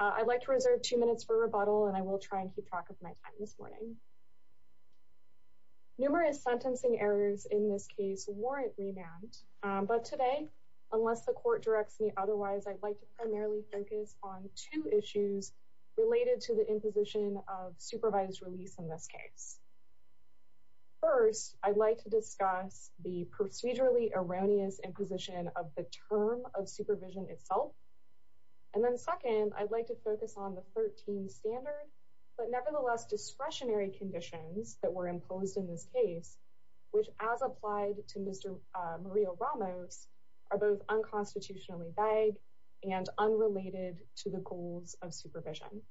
I'd like to reserve two minutes for rebuttal and I will try and keep track of my time this morning. Numerous sentencing errors in this case warrant remand, but today, unless the court directs me otherwise, I'd like to primarily focus on two issues related to the imposition of supervised release in this case. First, I'd like to discuss the procedurally erroneous imposition of the term of supervision itself. And then second, I'd like to focus on the 13 standard, but nevertheless, discretionary conditions that were imposed in this case, which as applied to Mr. Murillo-Ramos are both unconstitutionally vague and unrelated to the goals of supervision.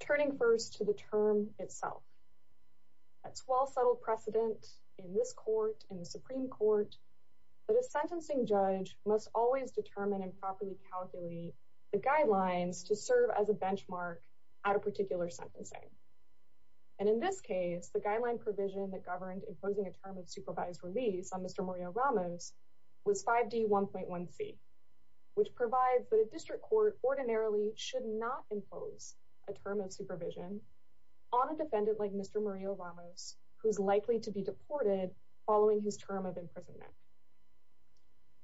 Turning first to the term itself, it's well settled precedent in this court, in the Supreme Court, that a sentencing judge must always determine and properly calculate the guidelines to serve as a benchmark at a particular sentencing. And in this case, the guideline provision that governed imposing a term of supervised release on Mr. Murillo-Ramos was 5D1.1c, which provides that a district court ordinarily should not impose a term of supervision on a defendant like Mr. Murillo-Ramos, who's likely to be deported following his term of imprisonment.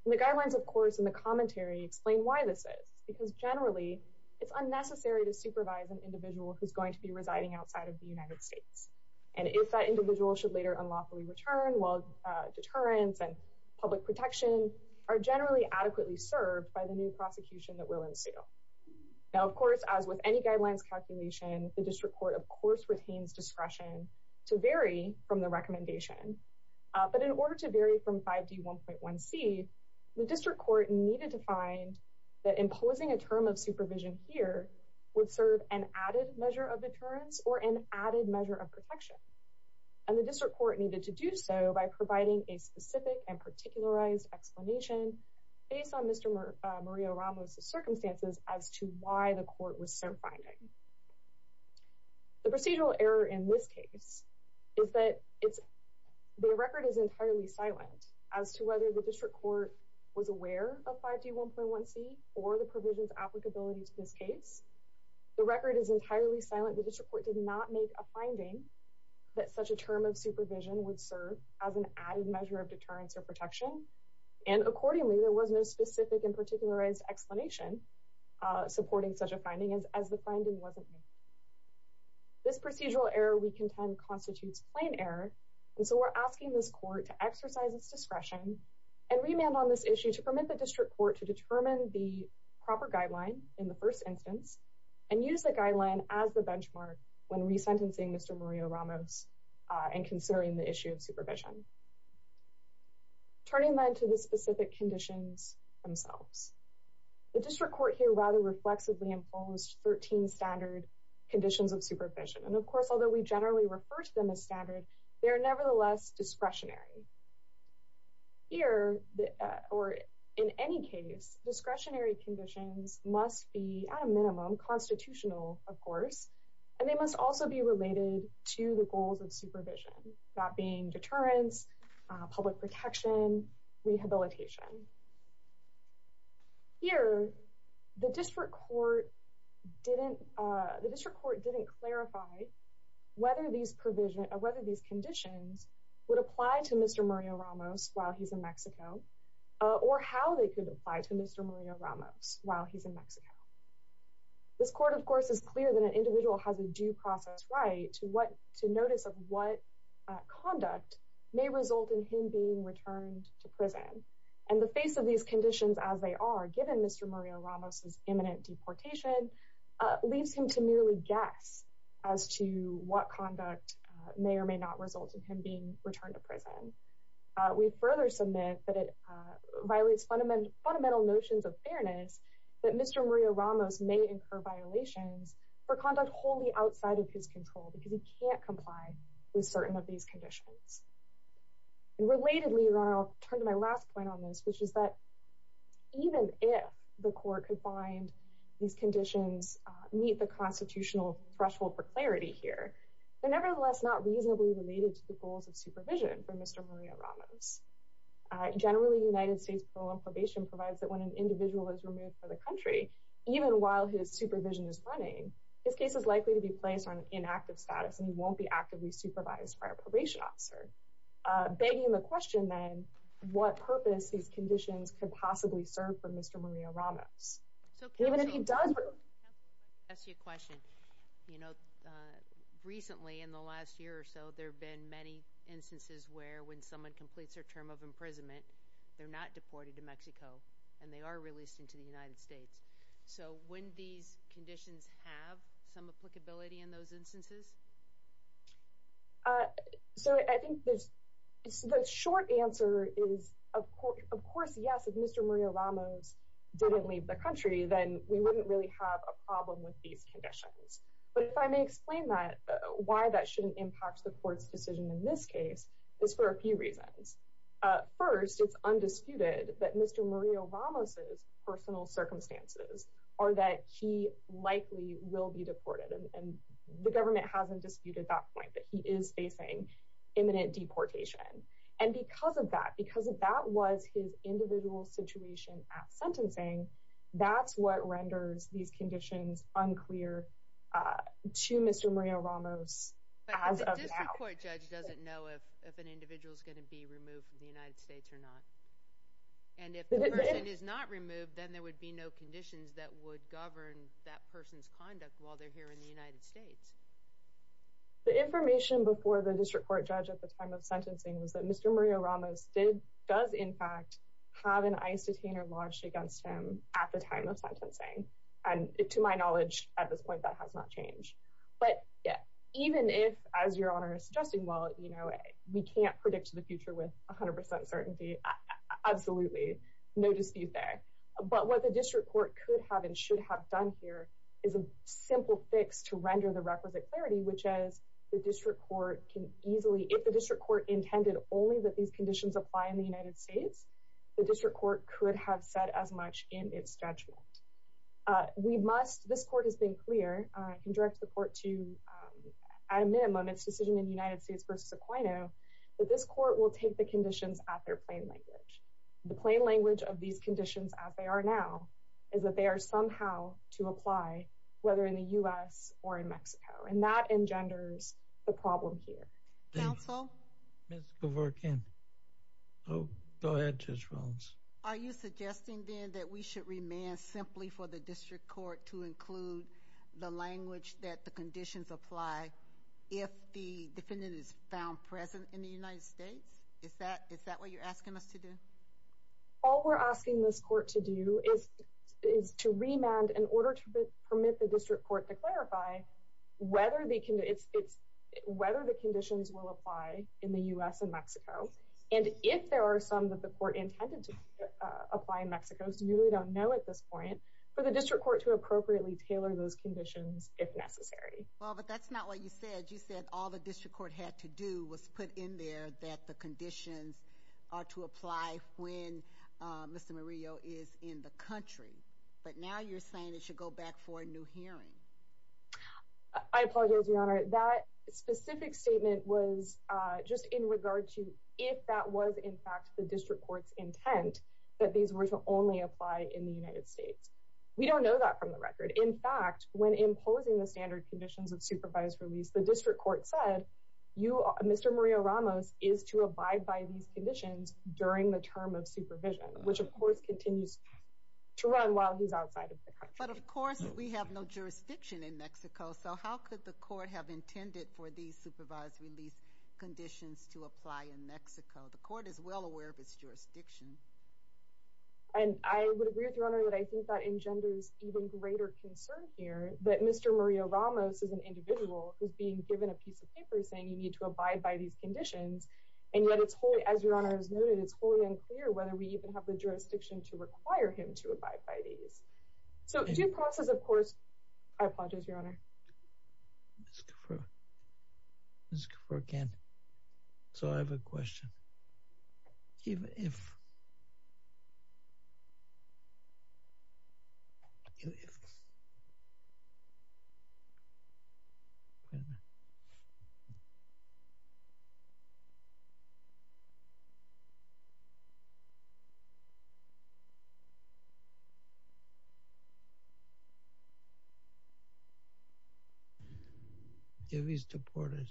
The guidelines, of course, and the commentary explain why this is, because generally, it's unnecessary to supervise an individual who's going to be residing outside of the United States. And if that individual should later unlawfully return, well, deterrence and public protection are generally adequately served by the new prosecution that will ensue. Now, of course, as with any guidelines calculation, the district court, of course, retains discretion to vary from the recommendation, but in order to vary from 5D1.1c, the district court needed to find that imposing a term of supervision here would serve an added measure of deterrence or an added measure of protection. And the district court needed to do so by providing a specific and particularized explanation based on Mr. Murillo-Ramos' circumstances as to why the court was sent finding. The procedural error in this case is that the record is entirely silent as to whether the district court was aware of 5D1.1c or the provision's applicability to this case. The record is entirely silent. The district court did not make a finding that such a term of supervision would serve as an added measure of deterrence or protection, and accordingly, there was no specific and particularized explanation supporting such a finding as the finding wasn't made. This procedural error we contend constitutes plain error, and so we're asking this court to exercise its discretion and remand on this issue to permit the district court to determine the proper guideline in the first instance and use the guideline as the benchmark when resentencing Mr. Murillo-Ramos and considering the issue of supervision. Turning then to the specific conditions themselves, the district court here rather reflexively imposed 13 standard conditions of supervision, and of course, although we generally refer to them as standard, they are nevertheless discretionary. Here, or in any case, discretionary conditions must be, at a minimum, constitutional, of course, and they must also be related to the goals of supervision, that being deterrence, public protection, rehabilitation. Here, the district court didn't clarify whether these conditions would apply to Mr. Murillo-Ramos while he's in Mexico, or how they could apply to Mr. Murillo-Ramos while he's in Mexico. This court, of course, is clear that an individual has a due process right to notice of what conduct may result in him being returned to prison, and the face of these conditions as they are, given Mr. Murillo-Ramos's imminent deportation, leads him to merely guess as to what conduct may or may not result in him being returned to prison. We further submit that it violates fundamental notions of fairness that Mr. Murillo-Ramos may incur violations for conduct wholly outside of his control, because he can't comply with certain of these conditions. Relatedly, I'll turn to my last point on this, which is that even if the court could find these conditions meet the constitutional threshold for clarity here, they're nevertheless not reasonably related to the goals of supervision for Mr. Murillo-Ramos. Generally, United States parole and probation provides that when an individual is removed from the country, even while his supervision is running, his case is likely to be placed on an inactive status, and he won't be actively supervised by a probation officer, begging the question, then, what purpose these conditions could possibly serve for Mr. Murillo-Ramos. Even if he does... So can I ask you a question? You know, recently, in the last year or so, there have been many instances where when someone completes their term of imprisonment, they're not deported to Mexico, and they are released into the United States. So wouldn't these conditions have some applicability in those instances? So I think the short answer is, of course, yes, if Mr. Murillo-Ramos didn't leave the country, then we wouldn't really have a problem with these conditions. But if I may explain that, why that shouldn't impact the court's decision in this case is for a few reasons. First, it's undisputed that Mr. Murillo-Ramos' personal circumstances are that he likely will be deported, and the government hasn't disputed that point, that he is facing imminent deportation. And because of that, because that was his individual situation at sentencing, that's what renders these conditions unclear to Mr. Murillo-Ramos as of now. But the district court judge doesn't know if an individual is going to be removed from the United States or not. And if the person is not removed, then there would be no conditions that would govern that person's conduct while they're here in the United States. The information before the district court judge at the time of sentencing was that Mr. Murillo-Ramos does, in fact, have an ICE detainer launched against him at the time of sentencing. And to my knowledge, at this point, that has not changed. But yeah, even if, as Your Honor is suggesting, well, you know, we can't predict the future with 100% certainty, absolutely, no dispute there. But what the district court could have and should have done here is a simple fix to render the requisite clarity, which is the district court can easily, if the district court intended only that these conditions apply in the United States, the district court could have said as much in its statute. We must, this court has been clear, can direct the court to, at a minimum, its decision in the United States v. Aquino, that this court will take the conditions at their plain language. The plain language of these conditions as they are now is that they are somehow to apply whether in the U.S. or in Mexico. And that engenders the problem here. Counsel? Ms. Gavorkian. Go ahead, Judge Rollins. Are you suggesting, then, that we should remand simply for the district court to include the language that the conditions apply if the defendant is found present in the United States? Is that what you're asking us to do? All we're asking this court to do is to remand in order to permit the district court to clarify whether the conditions will apply in the U.S. and Mexico. And if there are some that the court intended to apply in Mexico, we really don't know at this point, for the district court to appropriately tailor those conditions if necessary. Well, but that's not what you said. You said all the district court had to do was put in there that the conditions are to apply when Mr. Murillo is in the country. But now you're saying it should go back for a new hearing. I apologize, Your Honor. That specific statement was just in regard to if that was, in fact, the district court's intent that these were to only apply in the United States. We don't know that from the record. In fact, when imposing the standard conditions of supervised release, the district court said Mr. Murillo-Ramos is to abide by these conditions during the term of supervision, which of course continues to run while he's outside of the country. But of course, we have no jurisdiction in Mexico, so how could the court have intended for these supervised release conditions to apply in Mexico? The court is well aware of its jurisdiction. And I would agree with Your Honor that I think that engenders even greater concern here that Mr. Murillo-Ramos is an individual who's being given a piece of paper saying you need to abide by these conditions. And yet it's wholly, as Your Honor has noted, it's wholly unclear whether we even have the jurisdiction to require him to abide by these. So due process, of course, I apologize, Your Honor. Ms. Gaffer, Ms. Gaffer again, so I have a question. Even if – even if – wait a minute. If he's deported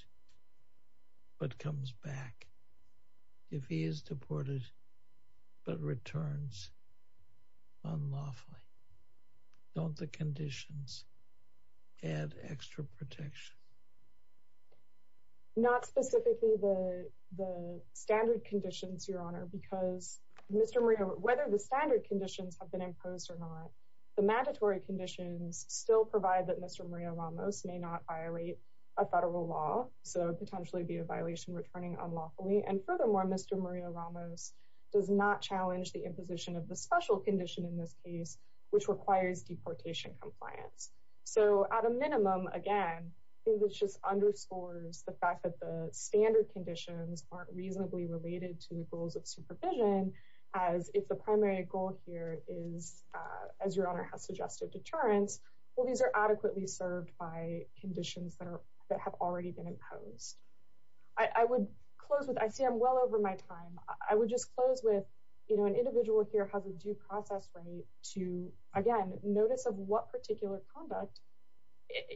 but comes back, if he is deported but returns unlawfully, don't the conditions add extra protection? Not specifically the standard conditions, Your Honor, because Mr. Murillo – whether the standard conditions have been imposed or not, the mandatory conditions still provide that Mr. Murillo-Ramos may not violate a federal law. So it would potentially be a violation returning unlawfully. And furthermore, Mr. Murillo-Ramos does not challenge the imposition of the special condition in this case, which requires deportation compliance. So at a minimum, again, I think this just underscores the fact that the standard conditions aren't reasonably related to the goals of supervision, as if the primary goal here is, as Your Honor has suggested, deterrence. Well, these are adequately served by conditions that have already been imposed. I would close with – I see I'm well over my time. I would just close with, you know, an individual here has a due process right to, again, notice of what particular conduct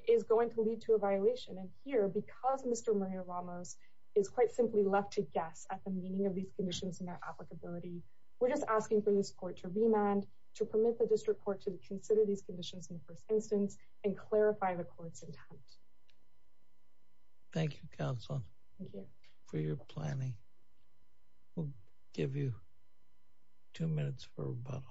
is going to lead to a violation. And here, because Mr. Murillo-Ramos is quite simply left to guess at the meaning of these conditions and their applicability, we're just asking for this court to remand, to permit the district court to consider these conditions in the first instance, and clarify the court's intent. Thank you, counsel. Thank you. For your planning. We'll give you two minutes for rebuttal.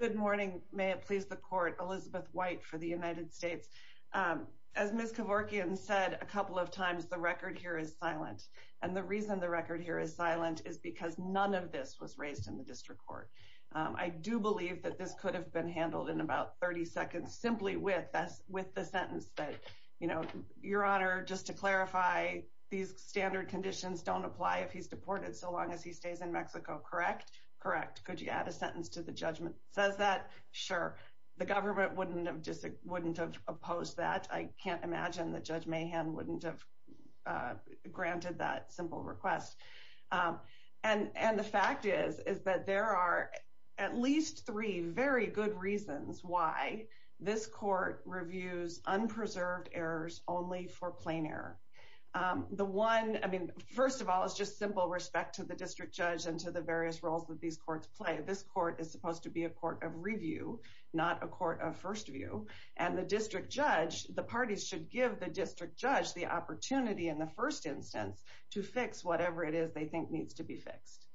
Good morning. May it please the court. Elizabeth White for the United States. As Ms. Kevorkian said a couple of times, the record here is silent. And the reason the record here is silent is because none of this was raised in the district court. I do believe that this could have been handled in about 30 seconds simply with the sentence that, you know, Your Honor, just to clarify, these standard conditions don't apply if he's deported so long as he stays in Mexico, correct? Correct. Could you add a sentence to the judgment that says that? Sure. The government wouldn't have opposed that. I can't imagine that Judge Mahan wouldn't have granted that simple request. And the fact is, is that there are at least three very good reasons why this court reviews unpreserved errors only for plain error. The one, I mean, first of all, is just simple respect to the district judge and to the various roles that these courts play. This court is supposed to be a court of review, not a court of first view. And the district judge, the parties should give the district judge the opportunity in the first instance to fix whatever it is they think needs to be fixed.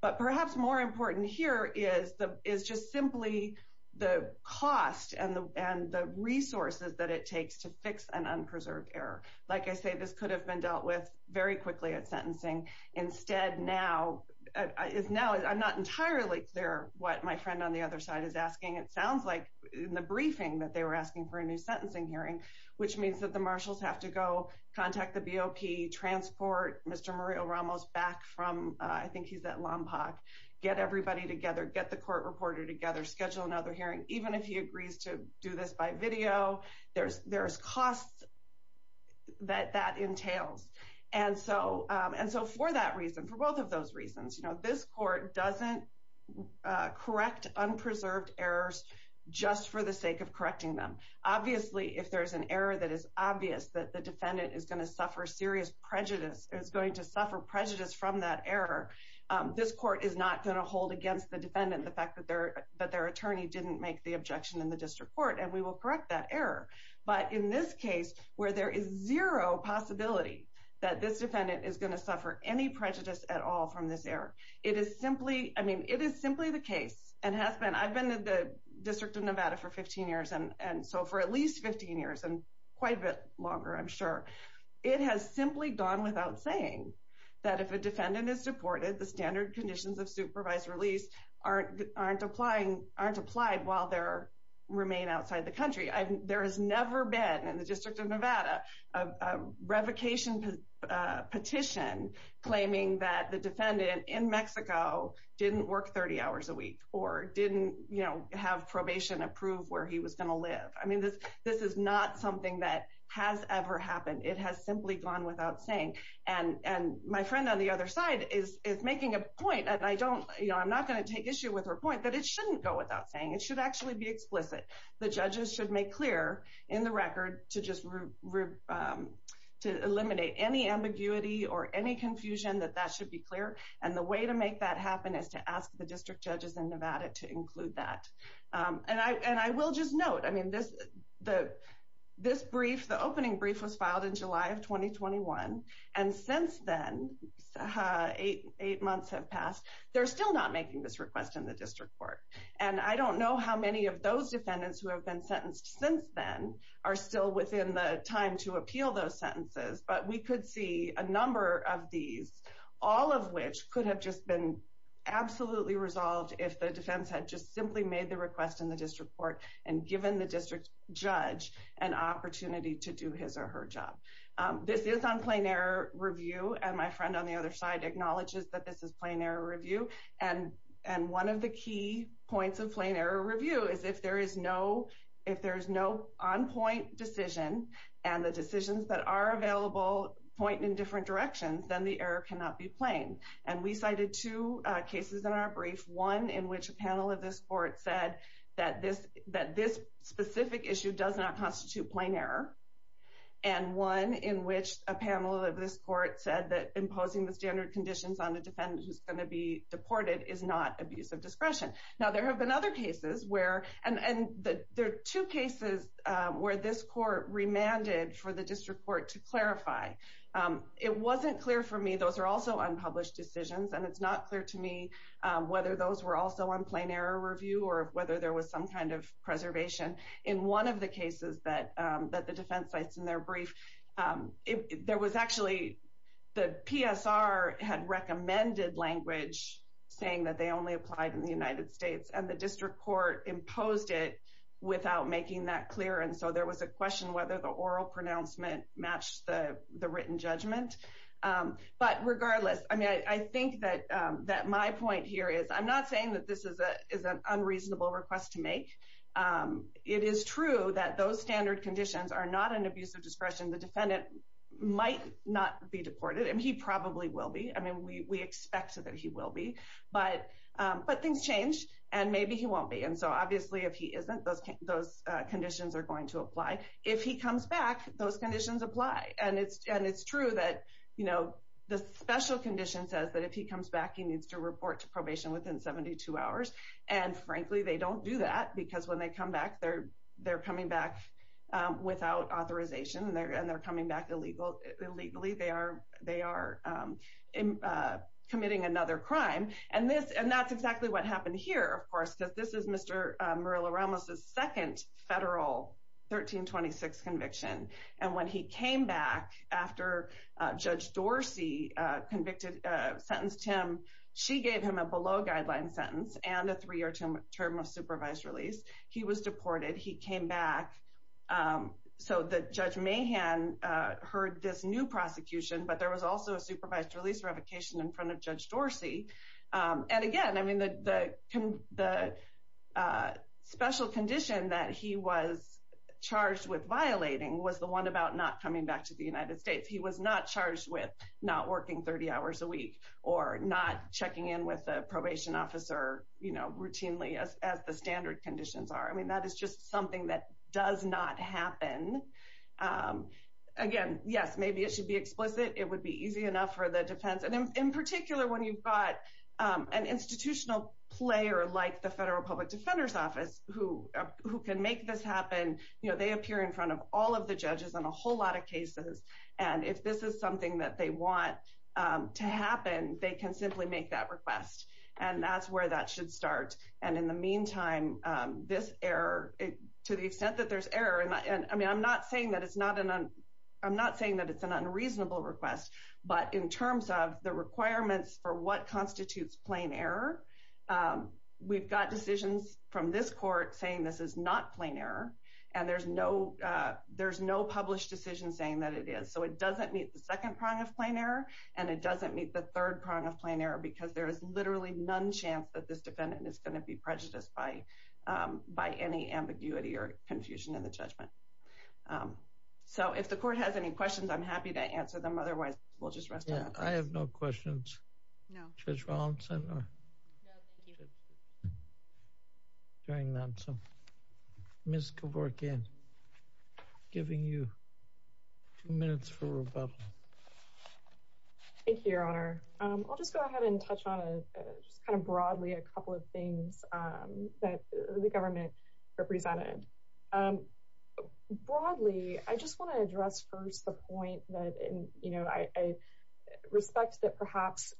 But perhaps more important here is just simply the cost and the resources that it takes to fix an unpreserved error. Like I say, this could have been dealt with very quickly at sentencing. Instead, now, I'm not entirely clear what my friend on the other side is asking. It sounds like in the briefing that they were asking for a new sentencing hearing, which means that the marshals have to go contact the BOP, transport Mr. Mario Ramos back from, I think he's at Lompoc, get everybody together, get the court reporter together, schedule another hearing. Even if he agrees to do this by video, there's costs that that entails. And so for that reason, for both of those reasons, this court doesn't correct unpreserved errors just for the sake of correcting them. Obviously, if there's an error that is obvious that the defendant is going to suffer serious prejudice, is going to suffer prejudice from that error, this court is not going to hold against the defendant the fact that their attorney didn't make the objection in the district court, and we will correct that error. But in this case, where there is zero possibility that this defendant is going to suffer any prejudice at all from this error, it is simply the case, and has been. I've been in the District of Nevada for 15 years, and so for at least 15 years, and quite a bit longer, I'm sure. It has simply gone without saying that if a defendant is deported, the standard conditions of supervised release aren't applied while they remain outside the country. There has never been, in the District of Nevada, a revocation petition claiming that the defendant in Mexico didn't work 30 hours a week, or didn't have probation approved where he was going to live. I mean, this is not something that has ever happened. It has simply gone without saying. And my friend on the other side is making a point, and I'm not going to take issue with her point, that it shouldn't go without saying. It should actually be explicit. The judges should make clear in the record to just eliminate any ambiguity or any confusion, that that should be clear. And the way to make that happen is to ask the district judges in Nevada to include that. And I will just note, I mean, this brief, the opening brief was filed in July of 2021, and since then, eight months have passed, they're still not making this request in the district court. And I don't know how many of those defendants who have been sentenced since then are still within the time to appeal those sentences, but we could see a number of these, all of which could have just been absolutely resolved if the defense had just simply made the request in the district court and given the district judge an opportunity to do his or her job. This is on plain error review, and my friend on the other side acknowledges that this is plain error review. And one of the key points of plain error review is if there is no on-point decision and the decisions that are available point in different directions, then the error cannot be plain. And we cited two cases in our brief, one in which a panel of this court said that this specific issue does not constitute plain error, and one in which a panel of this court said that imposing the standard conditions on a defendant who's going to be deported is not abuse of discretion. Now, there have been other cases where, and there are two cases where this court remanded for the district court to clarify. It wasn't clear for me, those are also unpublished decisions, and it's not clear to me whether those were also on plain error review or whether there was some kind of preservation. In one of the cases that the defense cites in their brief, there was actually the PSR had recommended language saying that they only applied in the United States, and the district court imposed it without making that clear. And so there was a question whether the oral pronouncement matched the written judgment. But regardless, I mean, I think that my point here is I'm not saying that this is an unreasonable request to make. It is true that those standard conditions are not an abuse of discretion. The defendant might not be deported, and he probably will be. I mean, we expect that he will be, but things change, and maybe he won't be. And so obviously, if he isn't, those conditions are going to apply. If he comes back, those conditions apply. And it's true that the special condition says that if he comes back, he needs to report to probation within 72 hours. And frankly, they don't do that because when they come back, they're coming back without authorization, and they're coming back illegally. They are committing another crime. And that's exactly what happened here, of course, because this is Mr. Murillo-Ramos's second federal 1326 conviction. And when he came back after Judge Dorsey sentenced him, she gave him a below-guideline sentence. And a three-year term of supervised release. He was deported. He came back. So Judge Mahan heard this new prosecution, but there was also a supervised release revocation in front of Judge Dorsey. And again, I mean, the special condition that he was charged with violating was the one about not coming back to the United States. If he was not charged with not working 30 hours a week or not checking in with a probation officer routinely as the standard conditions are, I mean, that is just something that does not happen. Again, yes, maybe it should be explicit. It would be easy enough for the defense. And in particular, when you've got an institutional player like the Federal Public Defender's Office who can make this happen, you know, they appear in front of all of the judges on a whole lot of cases. And if this is something that they want to happen, they can simply make that request. And that's where that should start. And in the meantime, this error, to the extent that there's error, I mean, I'm not saying that it's an unreasonable request. But in terms of the requirements for what constitutes plain error, we've got decisions from this court saying this is not plain error. And there's no published decision saying that it is. So it doesn't meet the second prong of plain error, and it doesn't meet the third prong of plain error, because there is literally none chance that this defendant is going to be prejudiced by any ambiguity or confusion in the judgment. So if the court has any questions, I'm happy to answer them. I have no questions. No. Judge Rawlinson? No, thank you. Hearing none, so Ms. Kevorkian, giving you two minutes for rebuttal. Thank you, Your Honor. I'll just go ahead and touch on just kind of broadly a couple of things that the government represented. Broadly, I just want to address first the point that I respect that perhaps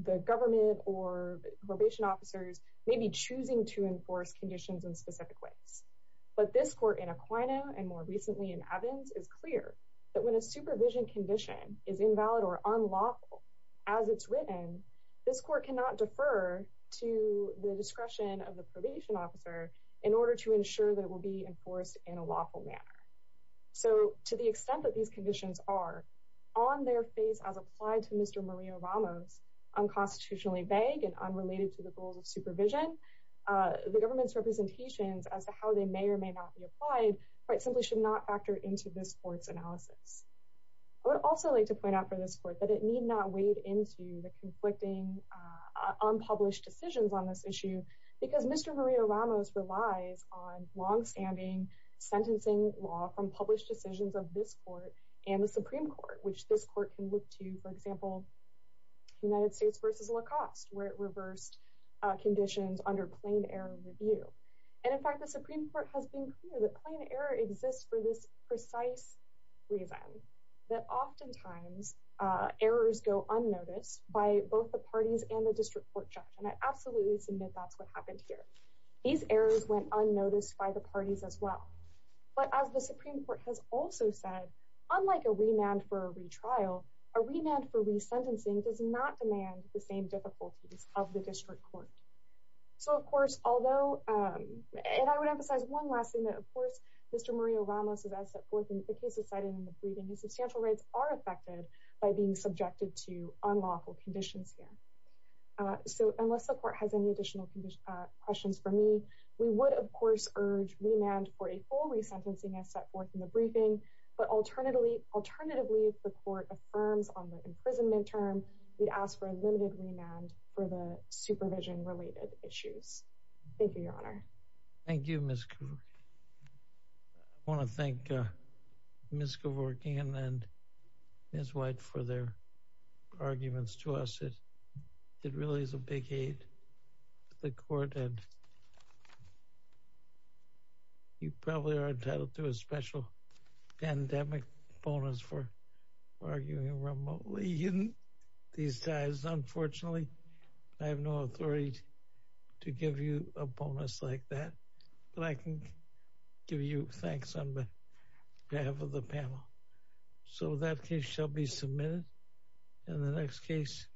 the government or probation officers may be choosing to enforce conditions in specific ways. But this court in Aquino and more recently in Evans is clear that when a supervision condition is invalid or unlawful as it's written, this court cannot defer to the discretion of the probation officer in order to ensure that it will be enforced in a lawful manner. So to the extent that these conditions are on their face as applied to Mr. Maria Ramos, unconstitutionally vague and unrelated to the goals of supervision, the government's representations as to how they may or may not be applied simply should not factor into this court's analysis. I would also like to point out for this court that it need not wade into the conflicting unpublished decisions on this issue, because Mr. Maria Ramos relies on longstanding sentencing law from published decisions of this court and the Supreme Court, which this court can look to, for example, United States versus Lacoste, where it reversed conditions under plain error review. And in fact, the Supreme Court has been clear that plain error exists for this precise reason, that oftentimes errors go unnoticed by both the parties and the district court judge. And I absolutely submit that's what happened here. These errors went unnoticed by the parties as well. But as the Supreme Court has also said, unlike a remand for a retrial, a remand for resentencing does not demand the same difficulties of the district court. So, of course, although I would emphasize one last thing that, of course, Mr. Maria Ramos is as set forth in the cases cited in the briefing, his substantial rights are affected by being subjected to unlawful conditions here. So unless the court has any additional questions for me, we would, of course, urge remand for a full resentencing as set forth in the briefing. But alternatively, if the court affirms on the imprisonment term, we'd ask for a limited remand for the supervision related issues. Thank you, Your Honor. Thank you, Ms. Kovorkian. I want to thank Ms. Kovorkian and Ms. White for their arguments to us. It really is a big aid to the court. And you probably are entitled to a special pandemic bonus for arguing remotely in these times. Unfortunately, I have no authority to give you a bonus like that. But I can give you thanks on behalf of the panel. So that case shall be submitted. And the next case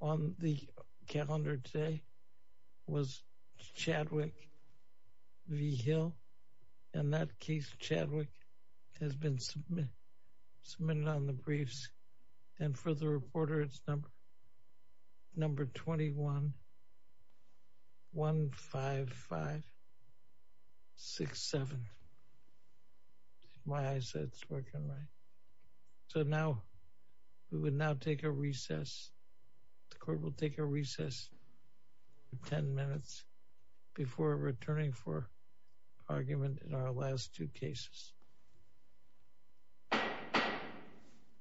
on the calendar today was Chadwick v. Hill. And that case, Chadwick, has been submitted on the briefs. And for the reporter, it's number 21-155-67. My eyes said it's working right. So now we would now take a recess. The court will take a recess for 10 minutes before returning for argument in our last two cases.